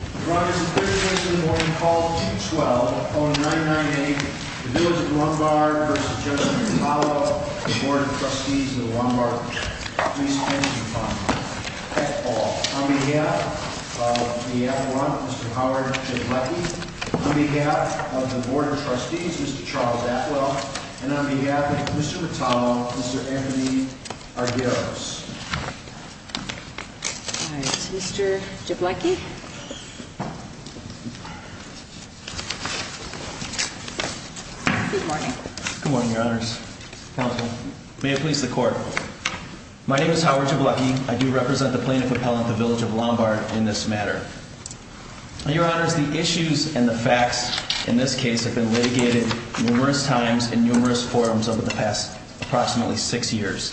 On behalf of the F1, Mr. Howard Jablecki. On behalf of the Board of Trustees, Mr. Charles Atwell. And on behalf of Mr. Metallo, Mr. Anthony Argyros. Mr. Jablecki. Good morning. Good morning, Your Honors. May it please the Court. My name is Howard Jablecki. I do represent the plaintiff appellant, the village of Lombard, in this matter. Your Honors, the issues and the facts in this case have been litigated numerous times in numerous forums over the past approximately six years.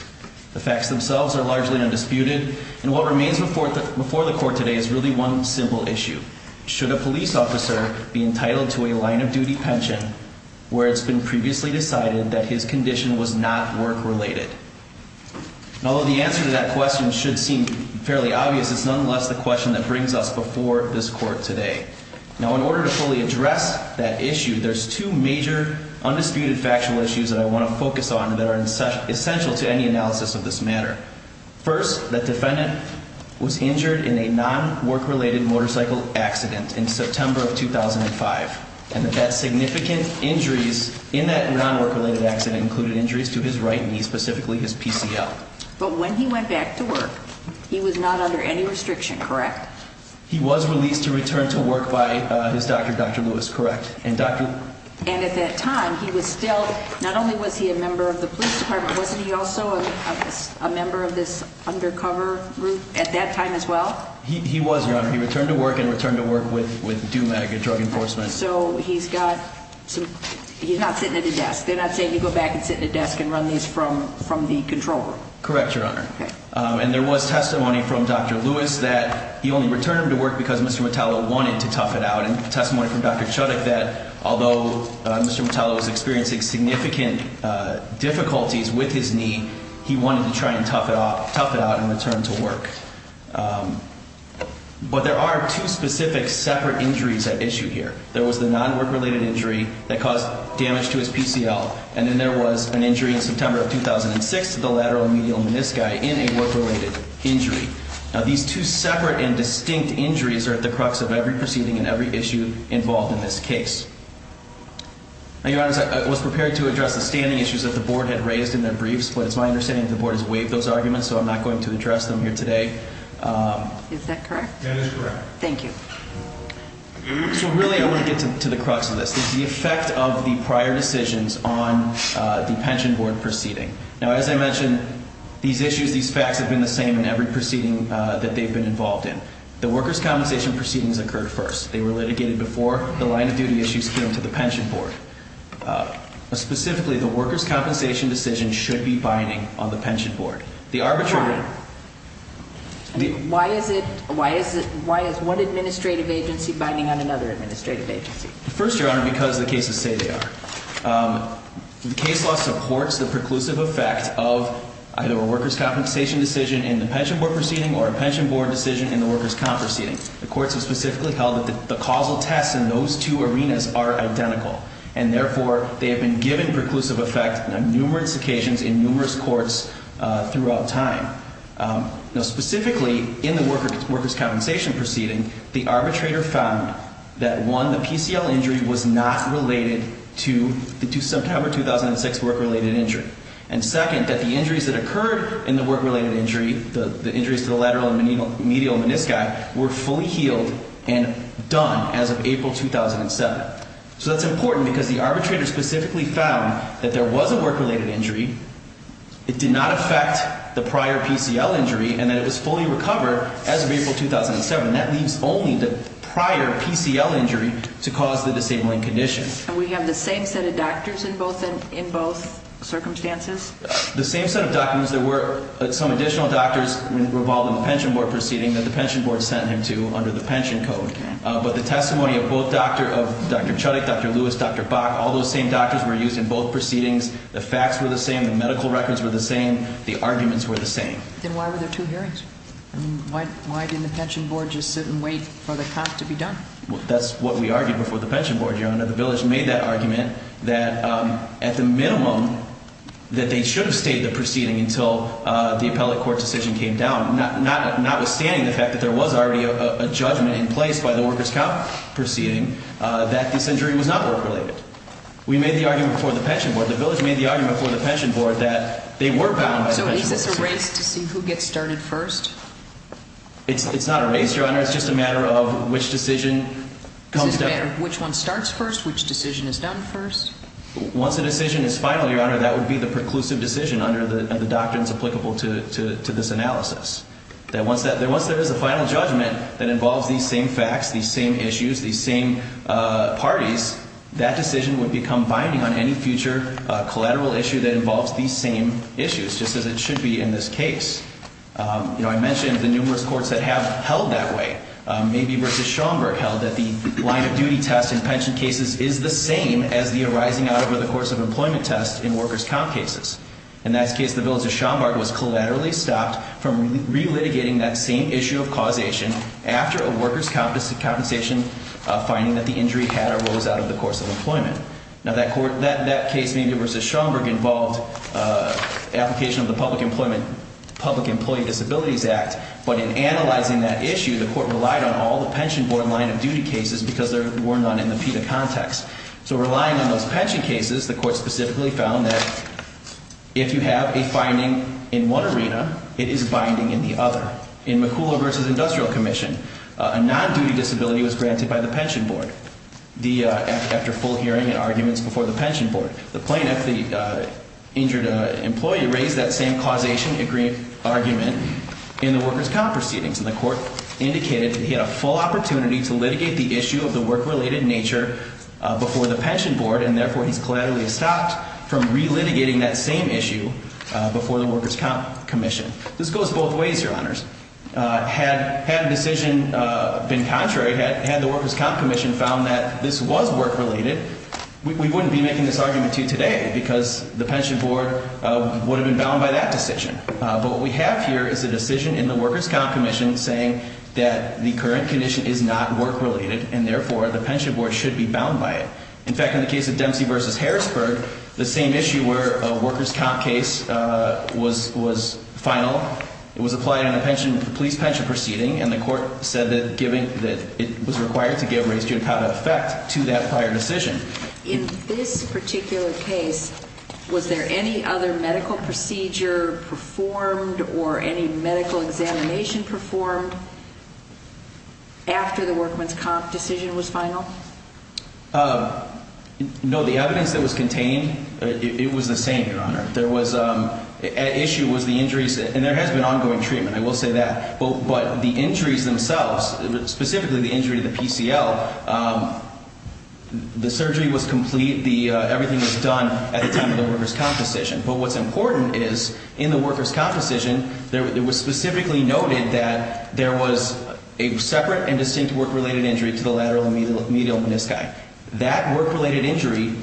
The facts themselves are largely undisputed. And what remains before the Court today is really one simple issue. Should a police officer be entitled to a line of duty pension where it's been previously decided that his condition was not work related? Although the answer to that question should seem fairly obvious, it's nonetheless the question that brings us before this Court today. Now, in order to fully address that issue, there's two major undisputed factual issues that I want to focus on that are essential to any analysis of this matter. First, the defendant was injured in a non-work related motorcycle accident in September of 2005. And that significant injuries in that non-work related accident included injuries to his right knee, specifically his PCL. But when he went back to work, he was not under any restriction, correct? He was released to return to work by his doctor, Dr. Lewis, correct? And at that time, he was still, not only was he a member of the police department, wasn't he also a member of this undercover group at that time as well? He was, Your Honor. He returned to work and returned to work with Dumega Drug Enforcement. So he's got some, he's not sitting at a desk. They're not saying you go back and sit at a desk and run these from the control room. Correct, Your Honor. And there was testimony from Dr. Lewis that he only returned to work because Mr. Mitalo wanted to tough it out. And testimony from Dr. Chudik that although Mr. Mitalo was experiencing significant difficulties with his knee, he wanted to try and tough it out and return to work. But there are two specific separate injuries at issue here. There was the non-work-related injury that caused damage to his PCL. And then there was an injury in September of 2006 to the lateral medial menisci in a work-related injury. Now, these two separate and distinct injuries are at the crux of every proceeding and every issue involved in this case. Now, Your Honor, I was prepared to address the standing issues that the Board had raised in their briefs, but it's my understanding that the Board has waived those arguments, so I'm not going to address them here today. Is that correct? That is correct. Thank you. So really I want to get to the crux of this. It's the effect of the prior decisions on the pension board proceeding. Now, as I mentioned, these issues, these facts have been the same in every proceeding that they've been involved in. The workers' compensation proceedings occurred first. They were litigated before the line-of-duty issues came to the pension board. Specifically, the workers' compensation decision should be binding on the pension board. Why? Why is one administrative agency binding on another administrative agency? First, Your Honor, because the cases say they are. The case law supports the preclusive effect of either a workers' compensation decision in the pension board proceeding or a pension board decision in the workers' comp proceeding. The courts have specifically held that the causal tests in those two arenas are identical. And, therefore, they have been given preclusive effect on numerous occasions in numerous courts throughout time. Now, specifically in the workers' compensation proceeding, the arbitrator found that, one, the PCL injury was not related to the September 2006 work-related injury. And, second, that the injuries that occurred in the work-related injury, the injuries to the lateral and medial menisci, were fully healed and done as of April 2007. So that's important because the arbitrator specifically found that there was a work-related injury, it did not affect the prior PCL injury, and that it was fully recovered as of April 2007. And that leaves only the prior PCL injury to cause the disabling condition. And we have the same set of doctors in both circumstances? The same set of doctors. There were some additional doctors involved in the pension board proceeding that the pension board sent him to under the pension code. But the testimony of both Dr. Chudik, Dr. Lewis, Dr. Bach, all those same doctors were used in both proceedings. The facts were the same. The medical records were the same. The arguments were the same. Then why were there two hearings? I mean, why didn't the pension board just sit and wait for the cost to be done? Well, that's what we argued before the pension board, Your Honor. The village made that argument that, at the minimum, that they should have stayed in the proceeding until the appellate court decision came down, notwithstanding the fact that there was already a judgment in place by the workers' council proceeding that this injury was not work-related. We made the argument before the pension board. The village made the argument before the pension board that they were bound by the pension board's decision. So is this a race to see who gets started first? It's not a race, Your Honor. It's just a matter of which decision comes down first. It's just a matter of which one starts first, which decision is done first? Once a decision is final, Your Honor, that would be the preclusive decision under the doctrines applicable to this analysis, that once there is a final judgment that involves these same facts, these same issues, these same parties, that decision would become binding on any future collateral issue that involves these same issues, just as it should be in this case. You know, I mentioned the numerous courts that have held that way, maybe versus Schomburg held, that the line-of-duty test in pension cases is the same as the arising-out-of-the-course-of-employment test in workers' comp cases. In that case, the village of Schomburg was collaterally stopped from relitigating that same issue of causation after a workers' compensation finding that the injury had or rose out of the course of employment. Now, that case, maybe versus Schomburg, involved application of the Public Employee Disabilities Act, but in analyzing that issue, the Court relied on all the pension board line-of-duty cases because there were none in the PETA context. So relying on those pension cases, the Court specifically found that if you have a finding in one arena, it is binding in the other. In McCulloch versus Industrial Commission, a non-duty disability was granted by the pension board after full hearing and arguments before the pension board. The plaintiff, the injured employee, raised that same causation argument in the workers' comp proceedings, and the Court indicated that he had a full opportunity to litigate the issue of the work-related nature before the pension board, and therefore, he's collaterally stopped from relitigating that same issue before the workers' comp commission. This goes both ways, Your Honors. Had a decision been contrary, had the workers' comp commission found that this was work-related, we wouldn't be making this argument to you today because the pension board would have been bound by that decision. But what we have here is a decision in the workers' comp commission saying that the current condition is not work-related, and therefore, the pension board should be bound by it. In fact, in the case of Dempsey versus Harrisburg, the same issue where a workers' comp case was final, it was applied in a police pension proceeding, and the Court said that it was required to give raised judicata effect to that prior decision. In this particular case, was there any other medical procedure performed or any medical examination performed after the workers' comp decision was final? No. The evidence that was contained, it was the same, Your Honor. The issue was the injuries, and there has been ongoing treatment, I will say that, but the injuries themselves, specifically the injury to the PCL, the surgery was complete, everything was done at the time of the workers' comp decision. But what's important is in the workers' comp decision, it was specifically noted that there was a separate and distinct work-related injury to the lateral medial menisci. That work-related injury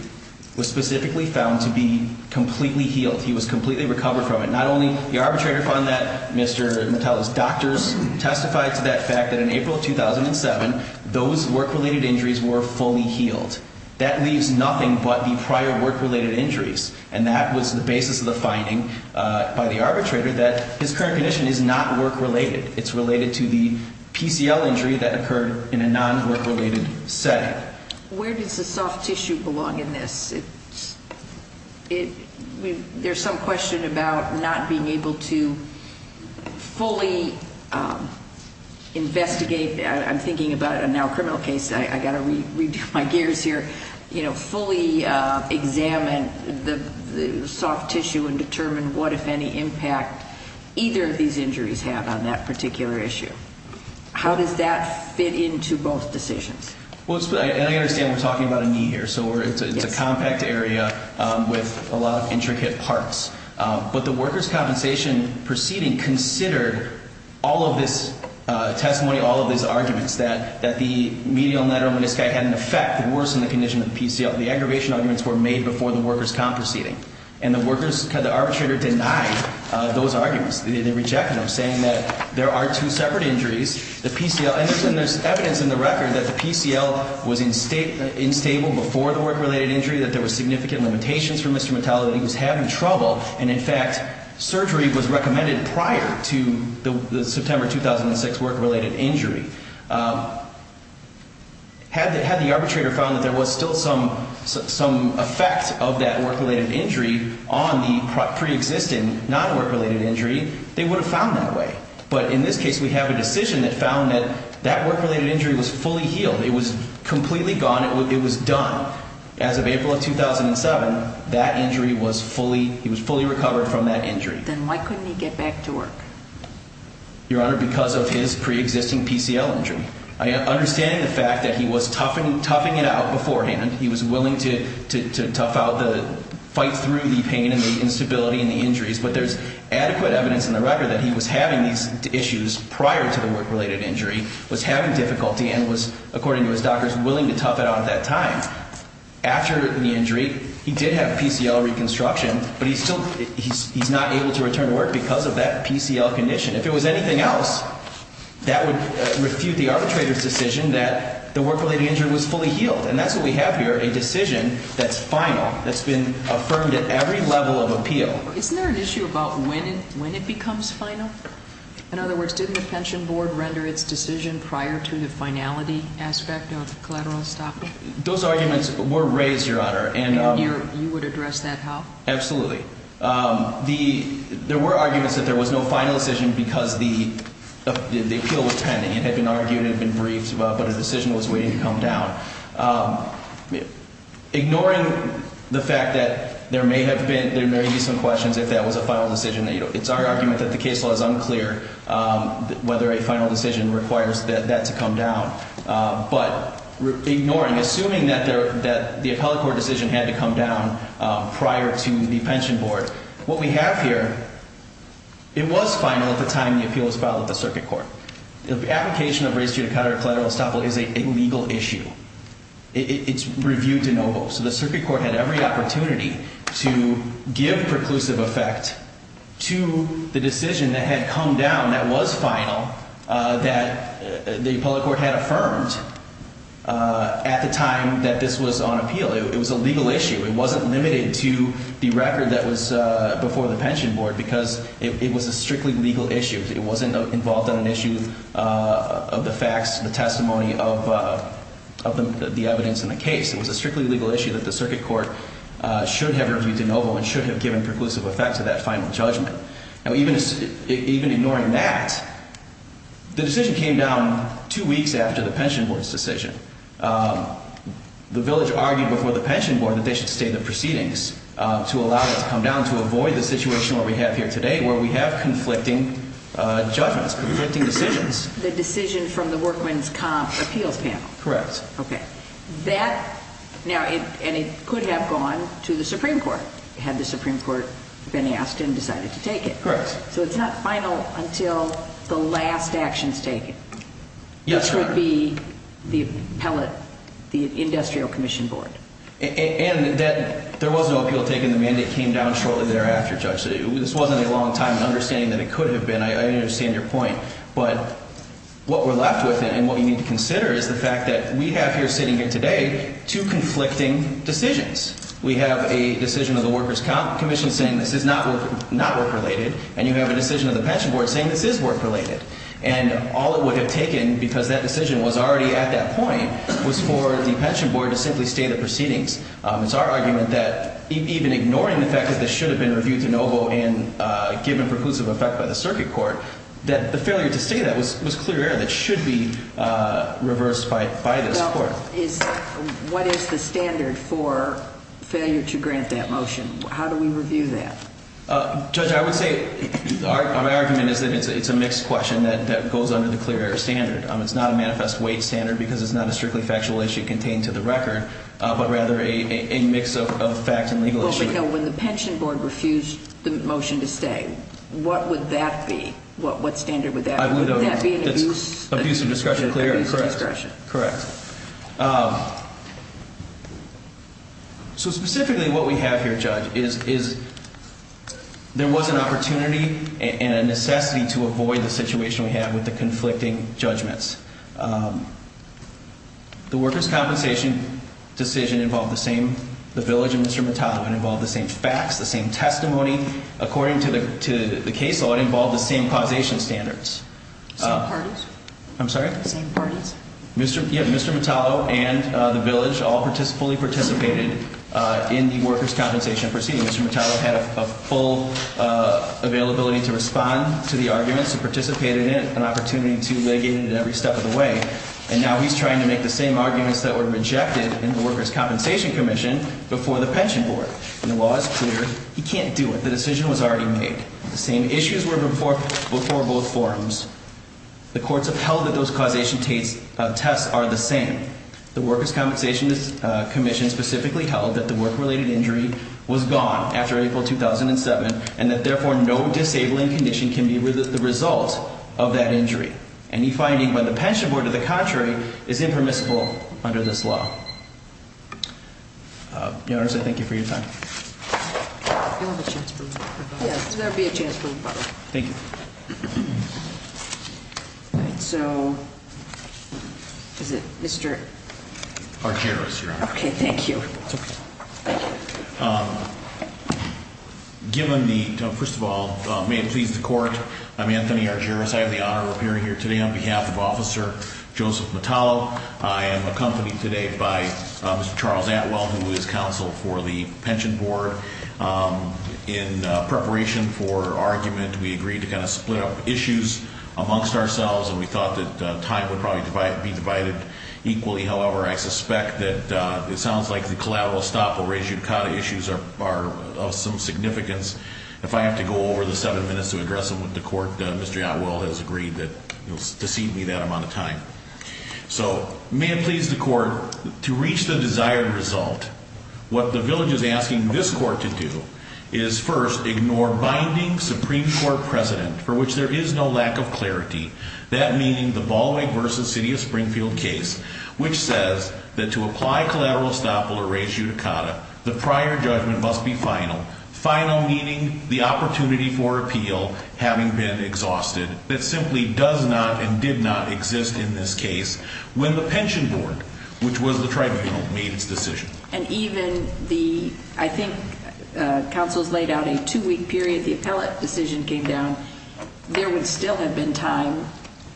was specifically found to be completely healed. He was completely recovered from it. Not only the arbitrator found that, Mr. Metellus, doctors testified to that fact that in April of 2007, those work-related injuries were fully healed. That leaves nothing but the prior work-related injuries, and that was the basis of the finding by the arbitrator that his current condition is not work-related. It's related to the PCL injury that occurred in a non-work-related setting. Where does the soft tissue belong in this? There's some question about not being able to fully investigate. I'm thinking about a now criminal case. I've got to redo my gears here. You know, fully examine the soft tissue and determine what, if any, impact either of these injuries have on that particular issue. How does that fit into both decisions? I understand we're talking about a knee here, so it's a compact area with a lot of intricate parts. But the workers' compensation proceeding considered all of this testimony, all of these arguments, that the medial lateral menisci had an effect worse than the condition of the PCL. The aggravation arguments were made before the workers' comp proceeding, and the arbitrator denied those arguments. They rejected them, saying that there are two separate injuries. And there's evidence in the record that the PCL was instable before the work-related injury, that there were significant limitations for Mr. Metallo, that he was having trouble. And, in fact, surgery was recommended prior to the September 2006 work-related injury. Had the arbitrator found that there was still some effect of that work-related injury on the preexisting non-work-related injury, they would have found that way. But in this case, we have a decision that found that that work-related injury was fully healed. It was completely gone. It was done. As of April of 2007, that injury was fully recovered from that injury. Then why couldn't he get back to work? Your Honor, because of his preexisting PCL injury. I understand the fact that he was toughing it out beforehand. He was willing to tough out the fight through the pain and the instability and the injuries. But there's adequate evidence in the record that he was having these issues prior to the work-related injury, was having difficulty, and was, according to his doctors, willing to tough it out at that time. After the injury, he did have PCL reconstruction, but he's not able to return to work because of that PCL condition. If it was anything else, that would refute the arbitrator's decision that the work-related injury was fully healed. And that's what we have here, a decision that's final, that's been affirmed at every level of appeal. Isn't there an issue about when it becomes final? In other words, didn't the Pension Board render its decision prior to the finality aspect of collateral estoppel? Those arguments were raised, Your Honor. And you would address that how? Absolutely. There were arguments that there was no final decision because the appeal was pending. It had been argued, it had been briefed, but a decision was waiting to come down. Ignoring the fact that there may have been, there may be some questions if that was a final decision, it's our argument that the case law is unclear whether a final decision requires that to come down. But ignoring, assuming that the appellate court decision had to come down prior to the Pension Board, what we have here, it was final at the time the appeal was filed at the circuit court. The application of race judicata collateral estoppel is a legal issue. It's reviewed to no vote. So the circuit court had every opportunity to give preclusive effect to the decision that had come down, that was final, that the appellate court had affirmed at the time that this was on appeal. It was a legal issue. It wasn't limited to the record that was before the Pension Board because it was a strictly legal issue. It wasn't involved in an issue of the facts, the testimony of the evidence in the case. It was a strictly legal issue that the circuit court should have reviewed to no vote and should have given preclusive effect to that final judgment. Now, even ignoring that, the decision came down two weeks after the Pension Board's decision. The village argued before the Pension Board that they should stay in the proceedings to allow it to come down to avoid the situation that we have here today where we have conflicting judgments, conflicting decisions. The decision from the workman's comp appeals panel. Correct. Okay. That, now, and it could have gone to the Supreme Court had the Supreme Court been asked and decided to take it. Correct. So it's not final until the last action is taken. Yes, Your Honor. Which would be the appellate, the Industrial Commission Board. And that there was no appeal taken. The mandate came down shortly thereafter, Judge. This wasn't a long time in understanding that it could have been. I understand your point. But what we're left with and what you need to consider is the fact that we have here sitting here today two conflicting decisions. We have a decision of the workers' commission saying this is not work-related, and you have a decision of the Pension Board saying this is work-related. And all it would have taken, because that decision was already at that point, was for the Pension Board to simply stay the proceedings. It's our argument that even ignoring the fact that this should have been reviewed to no vote and given preclusive effect by the circuit court, that the failure to stay that was clear error that should be reversed by this court. What is the standard for failure to grant that motion? How do we review that? Judge, I would say our argument is that it's a mixed question that goes under the clear error standard. It's not a manifest weight standard because it's not a strictly factual issue contained to the record, but rather a mix of fact and legal issue. Well, but, no, when the Pension Board refused the motion to stay, what would that be? What standard would that be? Would that be an abuse of discretion? Abuse of discretion, correct. Abuse of discretion. Correct. So, specifically, what we have here, Judge, is there was an opportunity and a necessity to avoid the situation we have with the conflicting judgments. The workers' compensation decision involved the same, the village and Mr. Mattano involved the same facts, the same testimony. According to the case law, it involved the same causation standards. Same parties? I'm sorry? Same parties? Yeah, Mr. Mattano and the village all fully participated in the workers' compensation proceeding. Mr. Mattano had a full availability to respond to the arguments, to participate in it, an opportunity to mitigate it every step of the way. And now he's trying to make the same arguments that were rejected in the workers' compensation commission before the Pension Board. And the law is clear. He can't do it. The decision was already made. The same issues were before both forums. The courts upheld that those causation tests are the same. The workers' compensation commission specifically held that the work-related injury was gone after April 2007 and that, therefore, no disabling condition can be the result of that injury. Any finding by the Pension Board, to the contrary, is impermissible under this law. Your Honor, I say thank you for your time. You'll have a chance for a rebuttal. Yes, there will be a chance for a rebuttal. Thank you. All right, so is it Mr. Argyros, Your Honor. Okay, thank you. It's okay. Thank you. Given the, first of all, may it please the court, I'm Anthony Argyros. I have the honor of appearing here today on behalf of Officer Joseph Mattano. I am accompanied today by Mr. Charles Atwell, who is counsel for the Pension Board. In preparation for argument, we agreed to kind of split up issues amongst ourselves, and we thought that time would probably be divided equally. However, I suspect that it sounds like the collateral stop or res judicata issues are of some significance. If I have to go over the seven minutes to address them with the court, Mr. Atwell has agreed to cede me that amount of time. So may it please the court, to reach the desired result, what the village is asking this court to do is first ignore binding Supreme Court precedent for which there is no lack of clarity, that meaning the Bollweg v. City of Springfield case, which says that to apply collateral stop or res judicata, the prior judgment must be final, final meaning the opportunity for appeal having been exhausted. It simply does not and did not exist in this case when the Pension Board, which was the tribunal, made its decision. And even the, I think counsel's laid out a two-week period, the appellate decision came down. There would still have been time,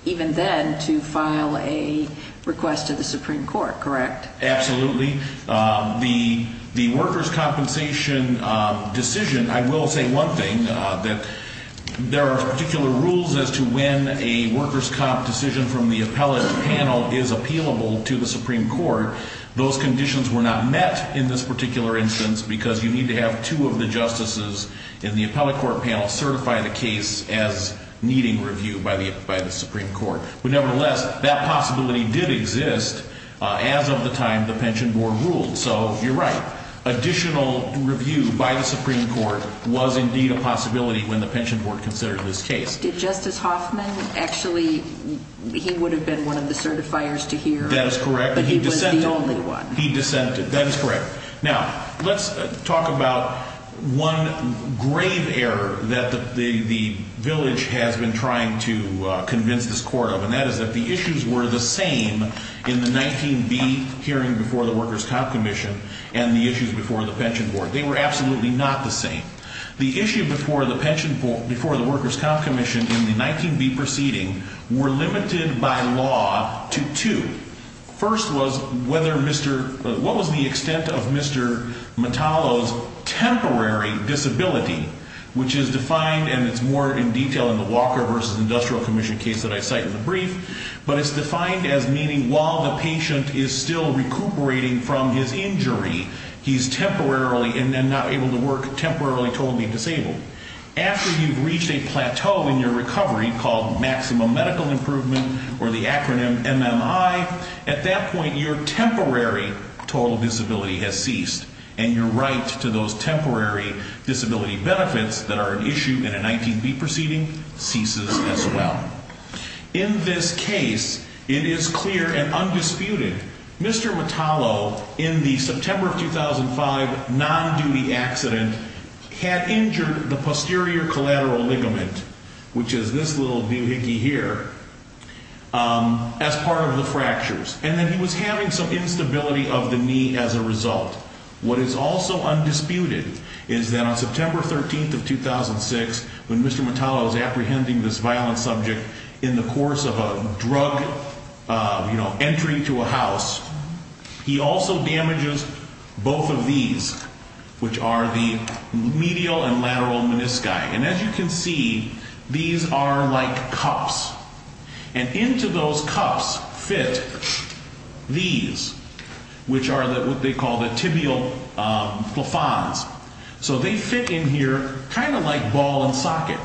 even then, to file a request to the Supreme Court, correct? Absolutely. The workers' compensation decision, I will say one thing, that there are particular rules as to when a workers' comp decision from the appellate panel is appealable to the Supreme Court. Those conditions were not met in this particular instance because you need to have two of the justices in the appellate court panel certify the case as needing review by the Supreme Court. But nevertheless, that possibility did exist as of the time the Pension Board ruled. So you're right, additional review by the Supreme Court was indeed a possibility when the Pension Board considered this case. Did Justice Hoffman actually, he would have been one of the certifiers to hear. That is correct. But he was the only one. He dissented. That is correct. Now, let's talk about one grave error that the village has been trying to convince this court of, and that is that the issues were the same in the 19B hearing before the Workers' Comp Commission and the issues before the Pension Board. They were absolutely not the same. The issue before the Workers' Comp Commission in the 19B proceeding were limited by law to two. First was what was the extent of Mr. Metallo's temporary disability, which is defined, and it's more in detail in the Walker v. Industrial Commission case that I cite in the brief, but it's defined as meaning while the patient is still recuperating from his injury, he's temporarily and then not able to work, temporarily totally disabled. After you've reached a plateau in your recovery called maximum medical improvement or the acronym MMI, at that point your temporary total disability has ceased, and your right to those temporary disability benefits that are an issue in a 19B proceeding ceases as well. In this case, it is clear and undisputed. Mr. Metallo, in the September of 2005 non-duty accident, had injured the posterior collateral ligament, which is this little doohickey here, as part of the fractures, and then he was having some instability of the knee as a result. What is also undisputed is that on September 13th of 2006, when Mr. Metallo is apprehending this violent subject in the course of a drug, you know, entry to a house, he also damages both of these, which are the medial and lateral menisci. And as you can see, these are like cups, and into those cups fit these, which are what they call the tibial plafonds. So they fit in here kind of like ball and socket.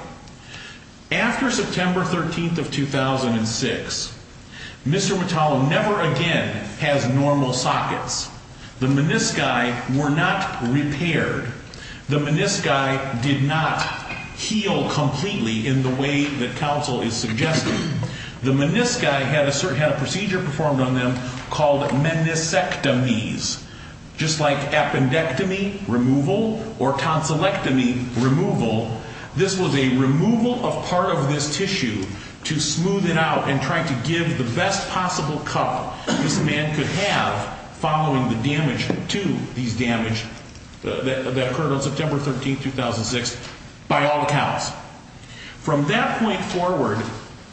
After September 13th of 2006, Mr. Metallo never again has normal sockets. The menisci were not repaired. The menisci did not heal completely in the way that counsel is suggesting. The menisci had a procedure performed on them called meniscectomies, just like appendectomy removal or tonsillectomy removal. This was a removal of part of this tissue to smooth it out and try to give the best possible cup this man could have following the damage to these damage that occurred on September 13th, 2006, by all accounts. From that point forward,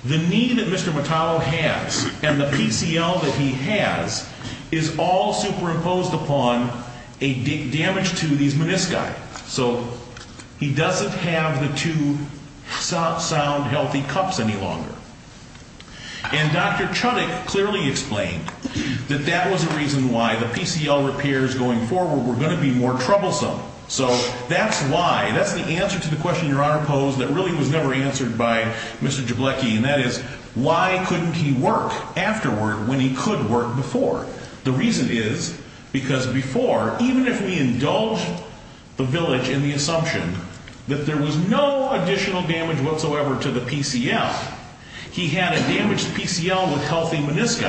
the need that Mr. Metallo has and the PCL that he has is all superimposed upon a damage to these menisci. So he doesn't have the two sound, healthy cups any longer. And Dr. Chudik clearly explained that that was the reason why the PCL repairs going forward were going to be more troublesome. So that's why, that's the answer to the question Your Honor posed that really was never answered by Mr. Jableki, and that is why couldn't he work afterward when he could work before? The reason is because before, even if we indulge the village in the assumption that there was no additional damage whatsoever to the PCL, he had a damaged PCL with healthy menisci.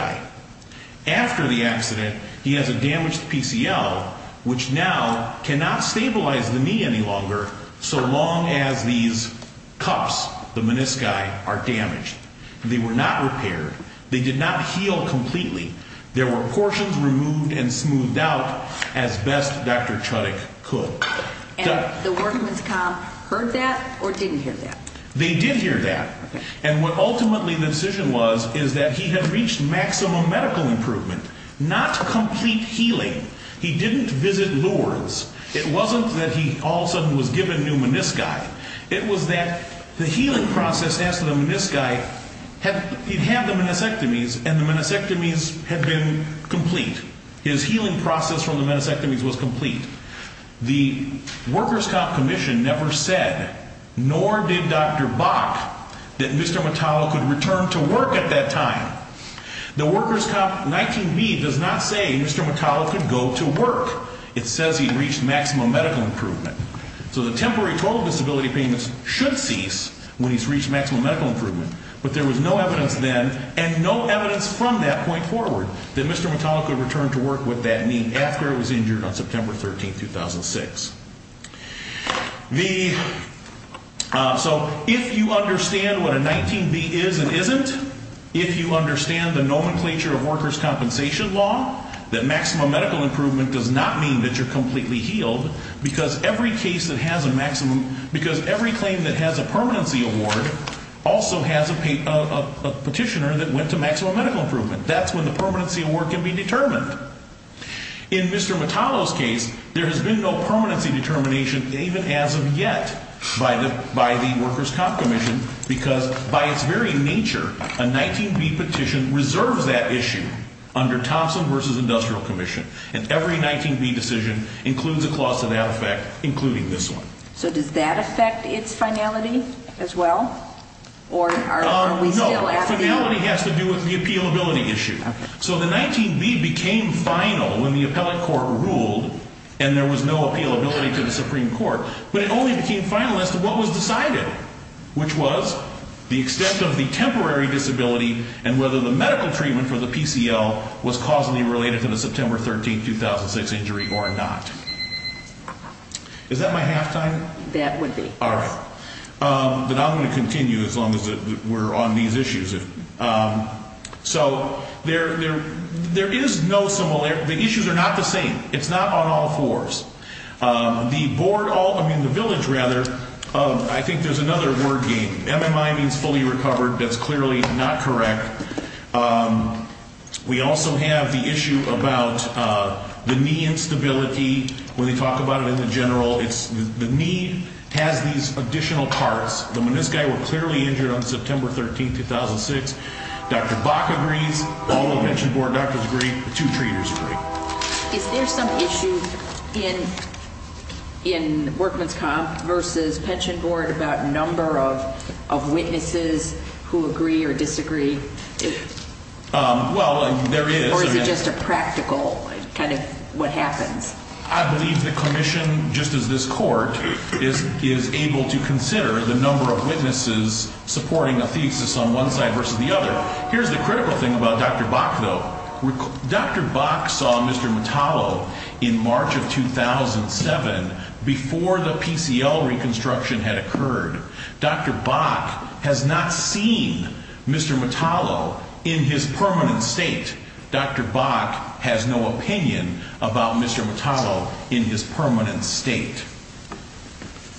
After the accident, he has a damaged PCL, which now cannot stabilize the knee any longer so long as these cups, the menisci, are damaged. They were not repaired. They did not heal completely. There were portions removed and smoothed out as best Dr. Chudik could. And the workmen's comp heard that or didn't hear that? They did hear that. And what ultimately the decision was is that he had reached maximum medical improvement, not complete healing. He didn't visit Lourdes. It wasn't that he all of a sudden was given new menisci. It was that the healing process after the menisci, he'd had the meniscectomies, and the meniscectomies had been complete. His healing process from the meniscectomies was complete. The workers' comp commission never said, nor did Dr. Bach, that Mr. Motala could return to work at that time. The workers' comp 19B does not say Mr. Motala could go to work. It says he'd reached maximum medical improvement. So the temporary total disability payments should cease when he's reached maximum medical improvement. But there was no evidence then, and no evidence from that point forward, that Mr. Motala could return to work with that knee after it was injured on September 13, 2006. So if you understand what a 19B is and isn't, if you understand the nomenclature of workers' compensation law, that maximum medical improvement does not mean that you're completely healed, because every claim that has a permanency award also has a petitioner that went to maximum medical improvement. That's when the permanency award can be determined. In Mr. Motala's case, there has been no permanency determination even as of yet by the workers' comp commission, because by its very nature, a 19B petition reserves that issue under Thompson v. Industrial Commission. And every 19B decision includes a clause to that effect, including this one. So does that affect its finality as well? No. Finality has to do with the appealability issue. So the 19B became final when the appellate court ruled, and there was no appealability to the Supreme Court. But it only became final as to what was decided, which was the extent of the temporary disability and whether the medical treatment for the PCL was causally related to the September 13, 2006 injury or not. Is that my halftime? That would be. All right. But I'm going to continue as long as we're on these issues. So there is no similarity. The issues are not the same. It's not on all fours. The board all ñ I mean, the village, rather, I think there's another word game. MMI means fully recovered. That's clearly not correct. We also have the issue about the knee instability when they talk about it in the general. The knee has these additional parts. This guy was clearly injured on September 13, 2006. Dr. Bach agrees. All the pension board doctors agree. The two treaters agree. Is there some issue in workman's comp versus pension board about number of witnesses who agree or disagree? Well, there is. Or is it just a practical kind of what happens? I believe the commission, just as this court, is able to consider the number of witnesses supporting a thesis on one side versus the other. Here's the critical thing about Dr. Bach, though. Dr. Bach saw Mr. Metallo in March of 2007 before the PCL reconstruction had occurred. Dr. Bach has not seen Mr. Metallo in his permanent state. Dr. Bach has no opinion about Mr. Metallo in his permanent state.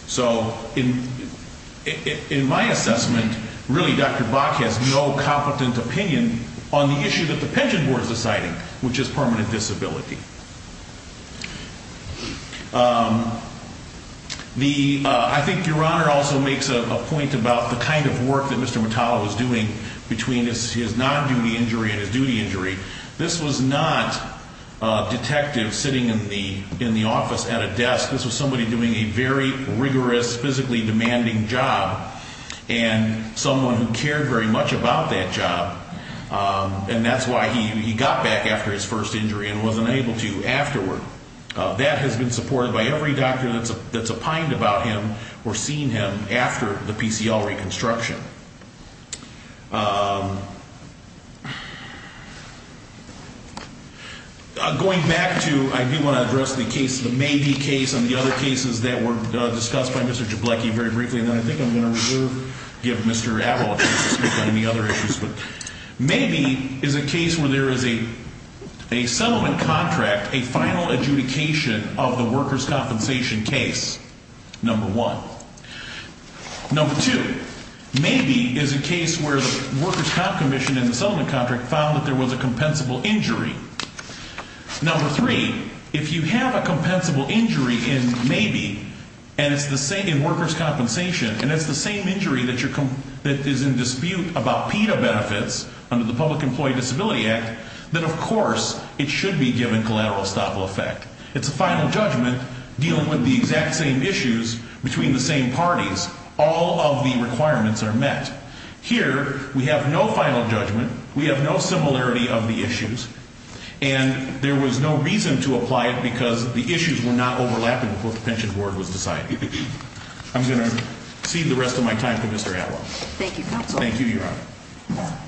So in my assessment, really, Dr. Bach has no competent opinion on the issue that the pension board is deciding, which is permanent disability. I think Your Honor also makes a point about the kind of work that Mr. Metallo was doing between his non-duty injury and his duty injury. This was not a detective sitting in the office at a desk. This was somebody doing a very rigorous, physically demanding job and someone who cared very much about that job. And that's why he got back after his first injury and wasn't able to afterward. That has been supported by every doctor that's opined about him or seen him after the PCL reconstruction. Going back to, I do want to address the case, the Mabee case and the other cases that were discussed by Mr. Jablecki very briefly. And then I think I'm going to reserve, give Mr. Abell a chance to speak on any other issues. But Mabee is a case where there is a settlement contract, a final adjudication of the workers' compensation case, number one. Number two, Mabee is a case where the workers' comp commission in the settlement contract found that there was a compensable injury. Number three, if you have a compensable injury in Mabee and it's the same in workers' compensation, and it's the same injury that is in dispute about PETA benefits under the Public Employee Disability Act, then of course it should be given collateral estoppel effect. It's a final judgment dealing with the exact same issues between the same parties. All of the requirements are met. Here we have no final judgment. We have no similarity of the issues. And there was no reason to apply it because the issues were not overlapping before the pension board was decided. I'm going to cede the rest of my time to Mr. Abell. Thank you, counsel. Thank you, Your Honor.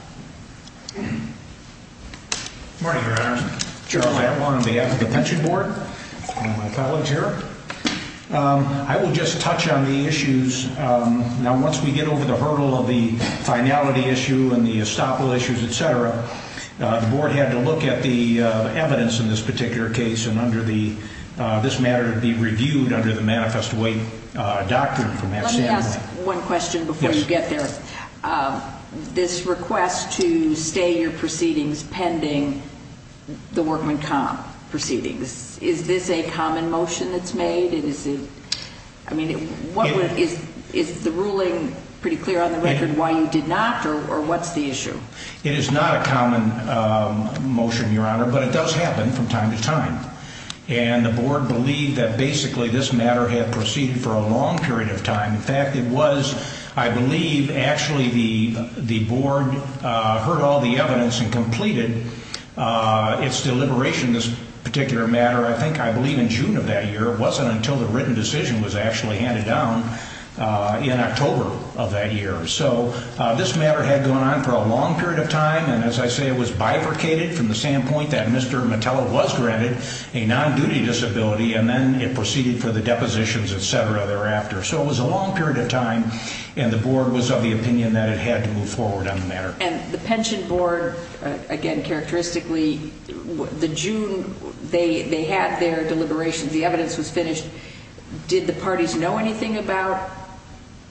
Good morning, Your Honor. I'm Gerald Abell on behalf of the pension board and my colleagues here. I will just touch on the issues. Now, once we get over the hurdle of the finality issue and the estoppel issues, et cetera, the board had to look at the evidence in this particular case, and this matter would be reviewed under the manifest weight doctrine from that standpoint. Let me ask one question before you get there. Yes. This request to stay your proceedings pending the workman comp proceedings, is this a common motion that's made? I mean, is the ruling pretty clear on the record why you did not or what's the issue? It is not a common motion, Your Honor, but it does happen from time to time. And the board believed that basically this matter had proceeded for a long period of time. In fact, it was, I believe, actually the board heard all the evidence and completed its deliberation of this particular matter, I think, I believe, in June of that year. It wasn't until the written decision was actually handed down in October of that year. So this matter had gone on for a long period of time, and as I say, it was bifurcated from the standpoint that Mr. Mattella was granted a non-duty disability and then it proceeded for the depositions, et cetera, thereafter. So it was a long period of time, and the board was of the opinion that it had to move forward on the matter. And the pension board, again, characteristically, the June, they had their deliberations. The evidence was finished. Did the parties know anything about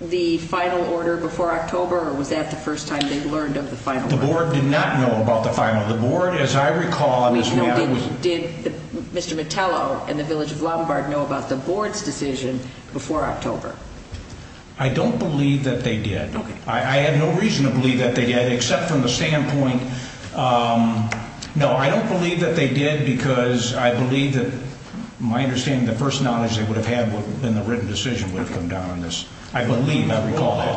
the final order before October, or was that the first time they learned of the final order? The board did not know about the final. The board, as I recall on this matter, was... I don't believe that they did. I have no reason to believe that they did, except from the standpoint... No, I don't believe that they did because I believe that, my understanding, the first knowledge they would have had in the written decision would have come down on this. I believe, I recall that.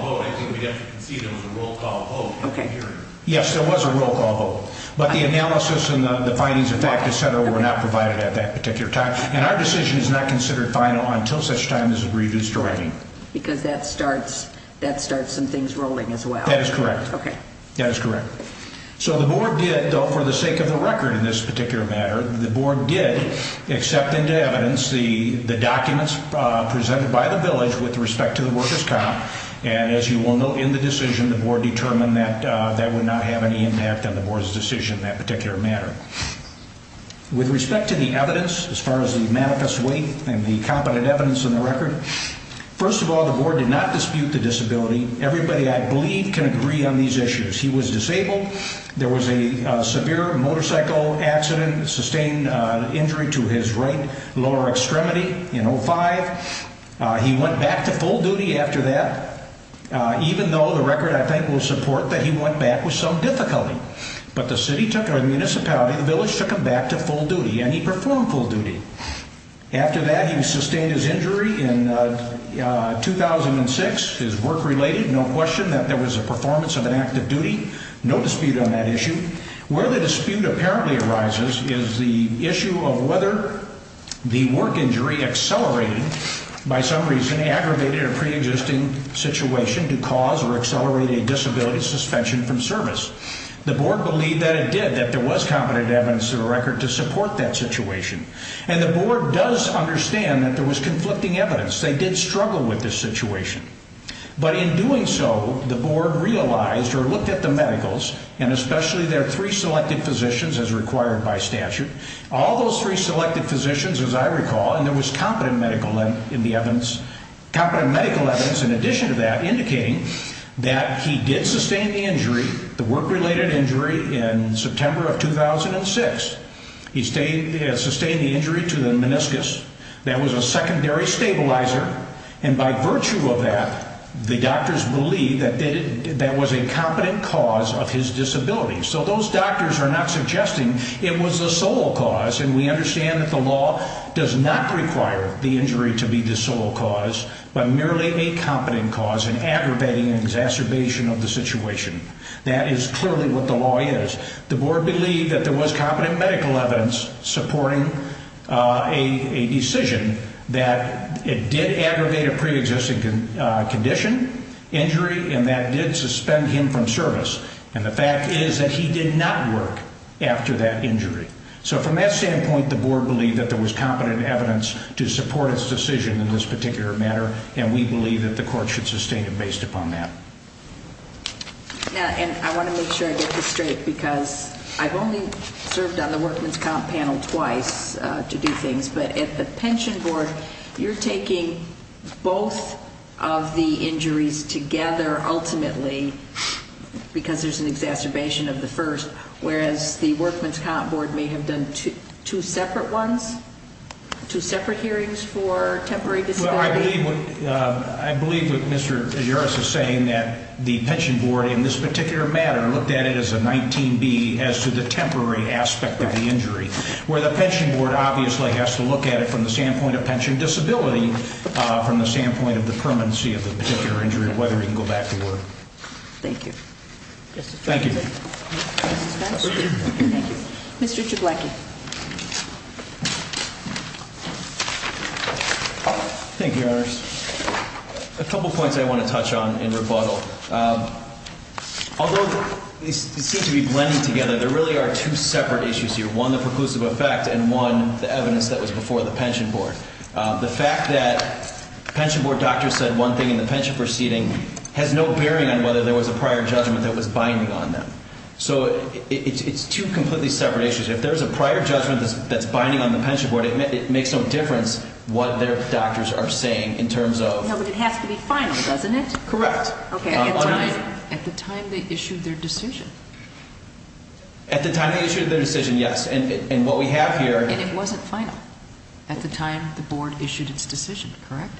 Yes, there was a roll call vote. But the analysis and the findings of fact, et cetera, were not provided at that particular time. And our decision is not considered final until such time as a brief history. Because that starts some things rolling as well. That is correct. Okay. That is correct. So the board did, though, for the sake of the record in this particular matter, the board did accept into evidence the documents presented by the village with respect to the workers' comp. And as you will note in the decision, the board determined that that would not have any impact on the board's decision in that particular matter. With respect to the evidence, as far as the manifest weight and the competent evidence in the record, first of all, the board did not dispute the disability. Everybody, I believe, can agree on these issues. He was disabled. There was a severe motorcycle accident, sustained injury to his right lower extremity in 05. He went back to full duty after that, even though the record, I think, will support that he went back with some difficulty. But the municipality, the village took him back to full duty, and he performed full duty. After that, he sustained his injury in 2006, his work related. No question that there was a performance of an act of duty. No dispute on that issue. Where the dispute apparently arises is the issue of whether the work injury accelerated, by some reason aggravated a preexisting situation to cause or accelerate a disability suspension from service. The board believed that it did, that there was competent evidence in the record to support that situation. And the board does understand that there was conflicting evidence. They did struggle with this situation. But in doing so, the board realized or looked at the medicals, and especially their three selected physicians as required by statute. All those three selected physicians, as I recall, and there was competent medical evidence in addition to that, indicating that he did sustain the injury, the work related injury, in September of 2006. He sustained the injury to the meniscus. That was a secondary stabilizer. And by virtue of that, the doctors believed that that was a competent cause of his disability. So those doctors are not suggesting it was the sole cause, and we understand that the law does not require the injury to be the sole cause, but merely a competent cause in aggravating and exacerbation of the situation. That is clearly what the law is. The board believed that there was competent medical evidence supporting a decision that it did aggravate a preexisting condition, injury, and that did suspend him from service. And the fact is that he did not work after that injury. So from that standpoint, the board believed that there was competent evidence to support its decision in this particular matter, and we believe that the court should sustain it based upon that. And I want to make sure I get this straight, because I've only served on the workman's comp panel twice to do things, but at the pension board, you're taking both of the injuries together ultimately because there's an exacerbation of the first, whereas the workman's comp board may have done two separate ones, two separate hearings for temporary disability. Well, I believe what Mr. Ayers is saying, that the pension board in this particular matter looked at it as a 19B as to the temporary aspect of the injury, where the pension board obviously has to look at it from the standpoint of pension disability, from the standpoint of the permanency of the particular injury, whether he can go back to work. Thank you. Thank you. Mr. Spence. Thank you. Mr. Jablanki. Thank you, Your Honors. A couple of points I want to touch on in rebuttal. Although they seem to be blending together, there really are two separate issues here, one the preclusive effect and one the evidence that was before the pension board. The fact that the pension board doctor said one thing in the pension proceeding has no bearing on whether there was a prior judgment that was binding on them. So it's two completely separate issues. If there's a prior judgment that's binding on the pension board, it makes no difference what their doctors are saying in terms of ______. No, but it has to be final, doesn't it? Correct. Okay. At the time they issued their decision. At the time they issued their decision, yes. And what we have here ______. And it wasn't final at the time the board issued its decision, correct?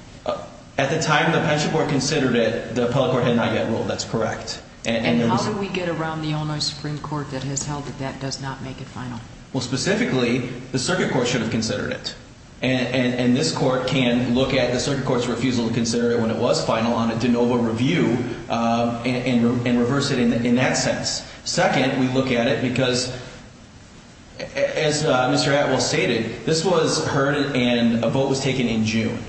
At the time the pension board considered it, the appellate court had not yet ruled. That's correct. And how do we get around the Illinois Supreme Court that has held that that does not make it final? Well, specifically, the circuit court should have considered it. And this court can look at the circuit court's refusal to consider it when it was final on a de novo review and reverse it in that sense. Second, we look at it because, as Mr. Atwell stated, this was heard and a vote was taken in June.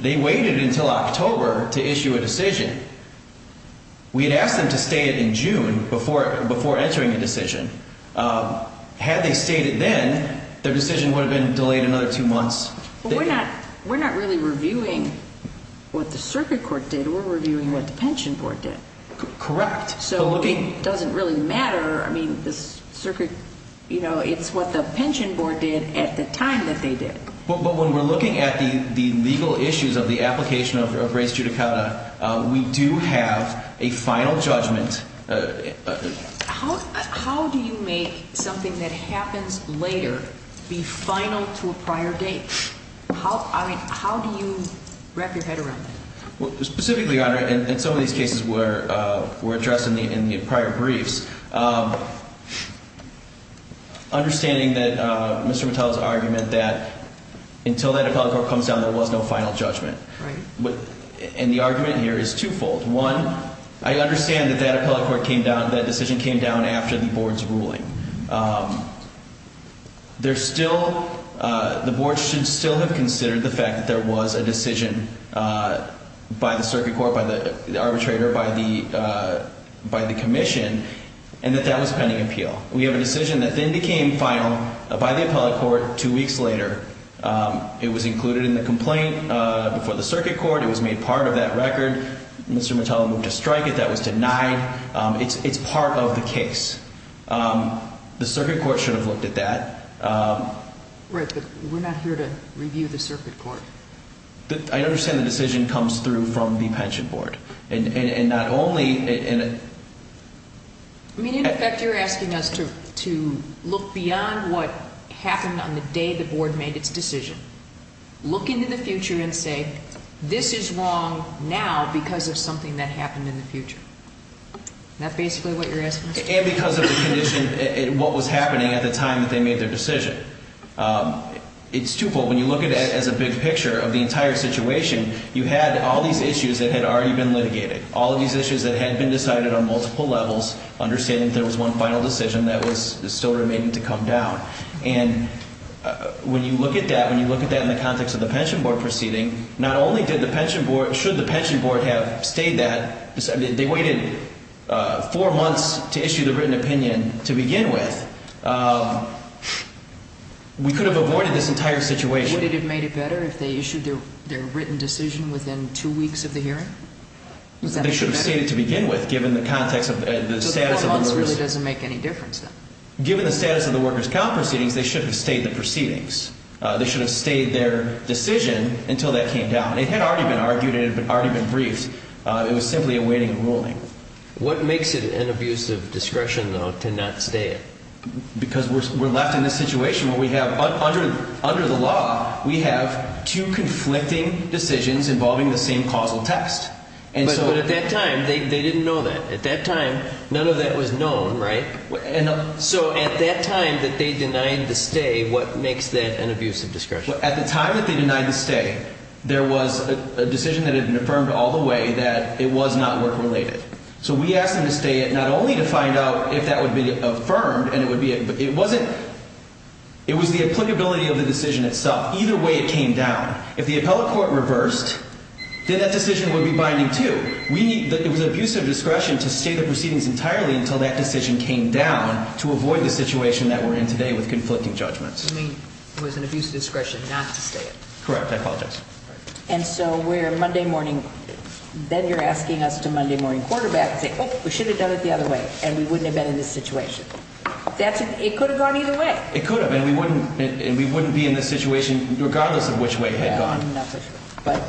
They waited until October to issue a decision. We had asked them to state it in June before entering a decision. Had they stated then, their decision would have been delayed another two months. We're not really reviewing what the circuit court did. We're reviewing what the pension board did. Correct. So it doesn't really matter. I mean, the circuit, you know, it's what the pension board did at the time that they did. But when we're looking at the legal issues of the application of race judicata, we do have a final judgment. How do you make something that happens later be final to a prior date? I mean, how do you wrap your head around that? Well, specifically, Your Honor, and some of these cases were addressed in the prior briefs, understanding that Mr. Mattel's argument that until that appellate court comes down, there was no final judgment. Right. And the argument here is twofold. One, I understand that that appellate court came down, that decision came down after the board's ruling. There's still, the board should still have considered the fact that there was a decision by the circuit court, by the arbitrator, by the commission, and that that was pending appeal. We have a decision that then became final by the appellate court two weeks later. It was included in the complaint before the circuit court. It was made part of that record. Mr. Mattel moved to strike it. That was denied. It's part of the case. The circuit court should have looked at that. Right, but we're not here to review the circuit court. I understand the decision comes through from the pension board. And not only in a... I mean, in effect, you're asking us to look beyond what happened on the day the board made its decision, look into the future and say, this is wrong now because of something that happened in the future. Isn't that basically what you're asking us to do? And because of the condition, what was happening at the time that they made their decision. It's twofold. When you look at it as a big picture of the entire situation, you had all these issues that had already been litigated, all of these issues that had been decided on multiple levels, understanding that there was one final decision that was still remaining to come down. And when you look at that, when you look at that in the context of the pension board proceeding, not only did the pension board, should the pension board have stayed that, they waited four months to issue the written opinion to begin with, we could have avoided this entire situation. Would it have made it better if they issued their written decision within two weeks of the hearing? They should have stayed it to begin with, given the context of the status of the workers... So 12 months really doesn't make any difference then. Given the status of the workers' comp proceedings, they should have stayed the proceedings. They should have stayed their decision until that came down. It had already been argued and it had already been briefed. It was simply a waiting and ruling. What makes it an abuse of discretion, though, to not stay it? Because we're left in this situation where we have, under the law, we have two conflicting decisions involving the same causal text. But at that time, they didn't know that. At that time, none of that was known, right? So at that time that they denied the stay, what makes that an abuse of discretion? At the time that they denied the stay, there was a decision that had been affirmed all the way that it was not work-related. So we asked them to stay it not only to find out if that would be affirmed, but it was the applicability of the decision itself. Either way, it came down. If the appellate court reversed, then that decision would be binding, too. It was an abuse of discretion to stay the proceedings entirely until that decision came down to avoid the situation that we're in today with conflicting judgments. You mean it was an abuse of discretion not to stay it? Correct. I apologize. And so we're Monday morning. Then you're asking us to Monday morning quarterback and say, oh, we should have done it the other way, and we wouldn't have been in this situation. It could have gone either way. It could have, and we wouldn't be in this situation regardless of which way it had gone. Yeah, I'm not so sure. But,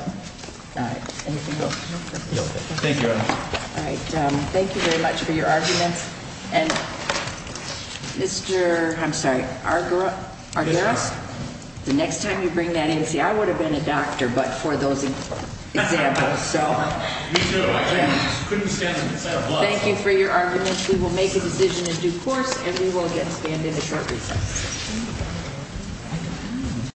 all right. Anything else? No. Thank you, Your Honor. All right. Thank you very much for your arguments. And, Mr. I'm sorry, Argyros? Yes, Your Honor. The next time you bring that in, see, I would have been a doctor but for those examples, so. We do. I couldn't stand it. Thank you for your arguments. We will make a decision in due course, and we will get spanned in a short recess.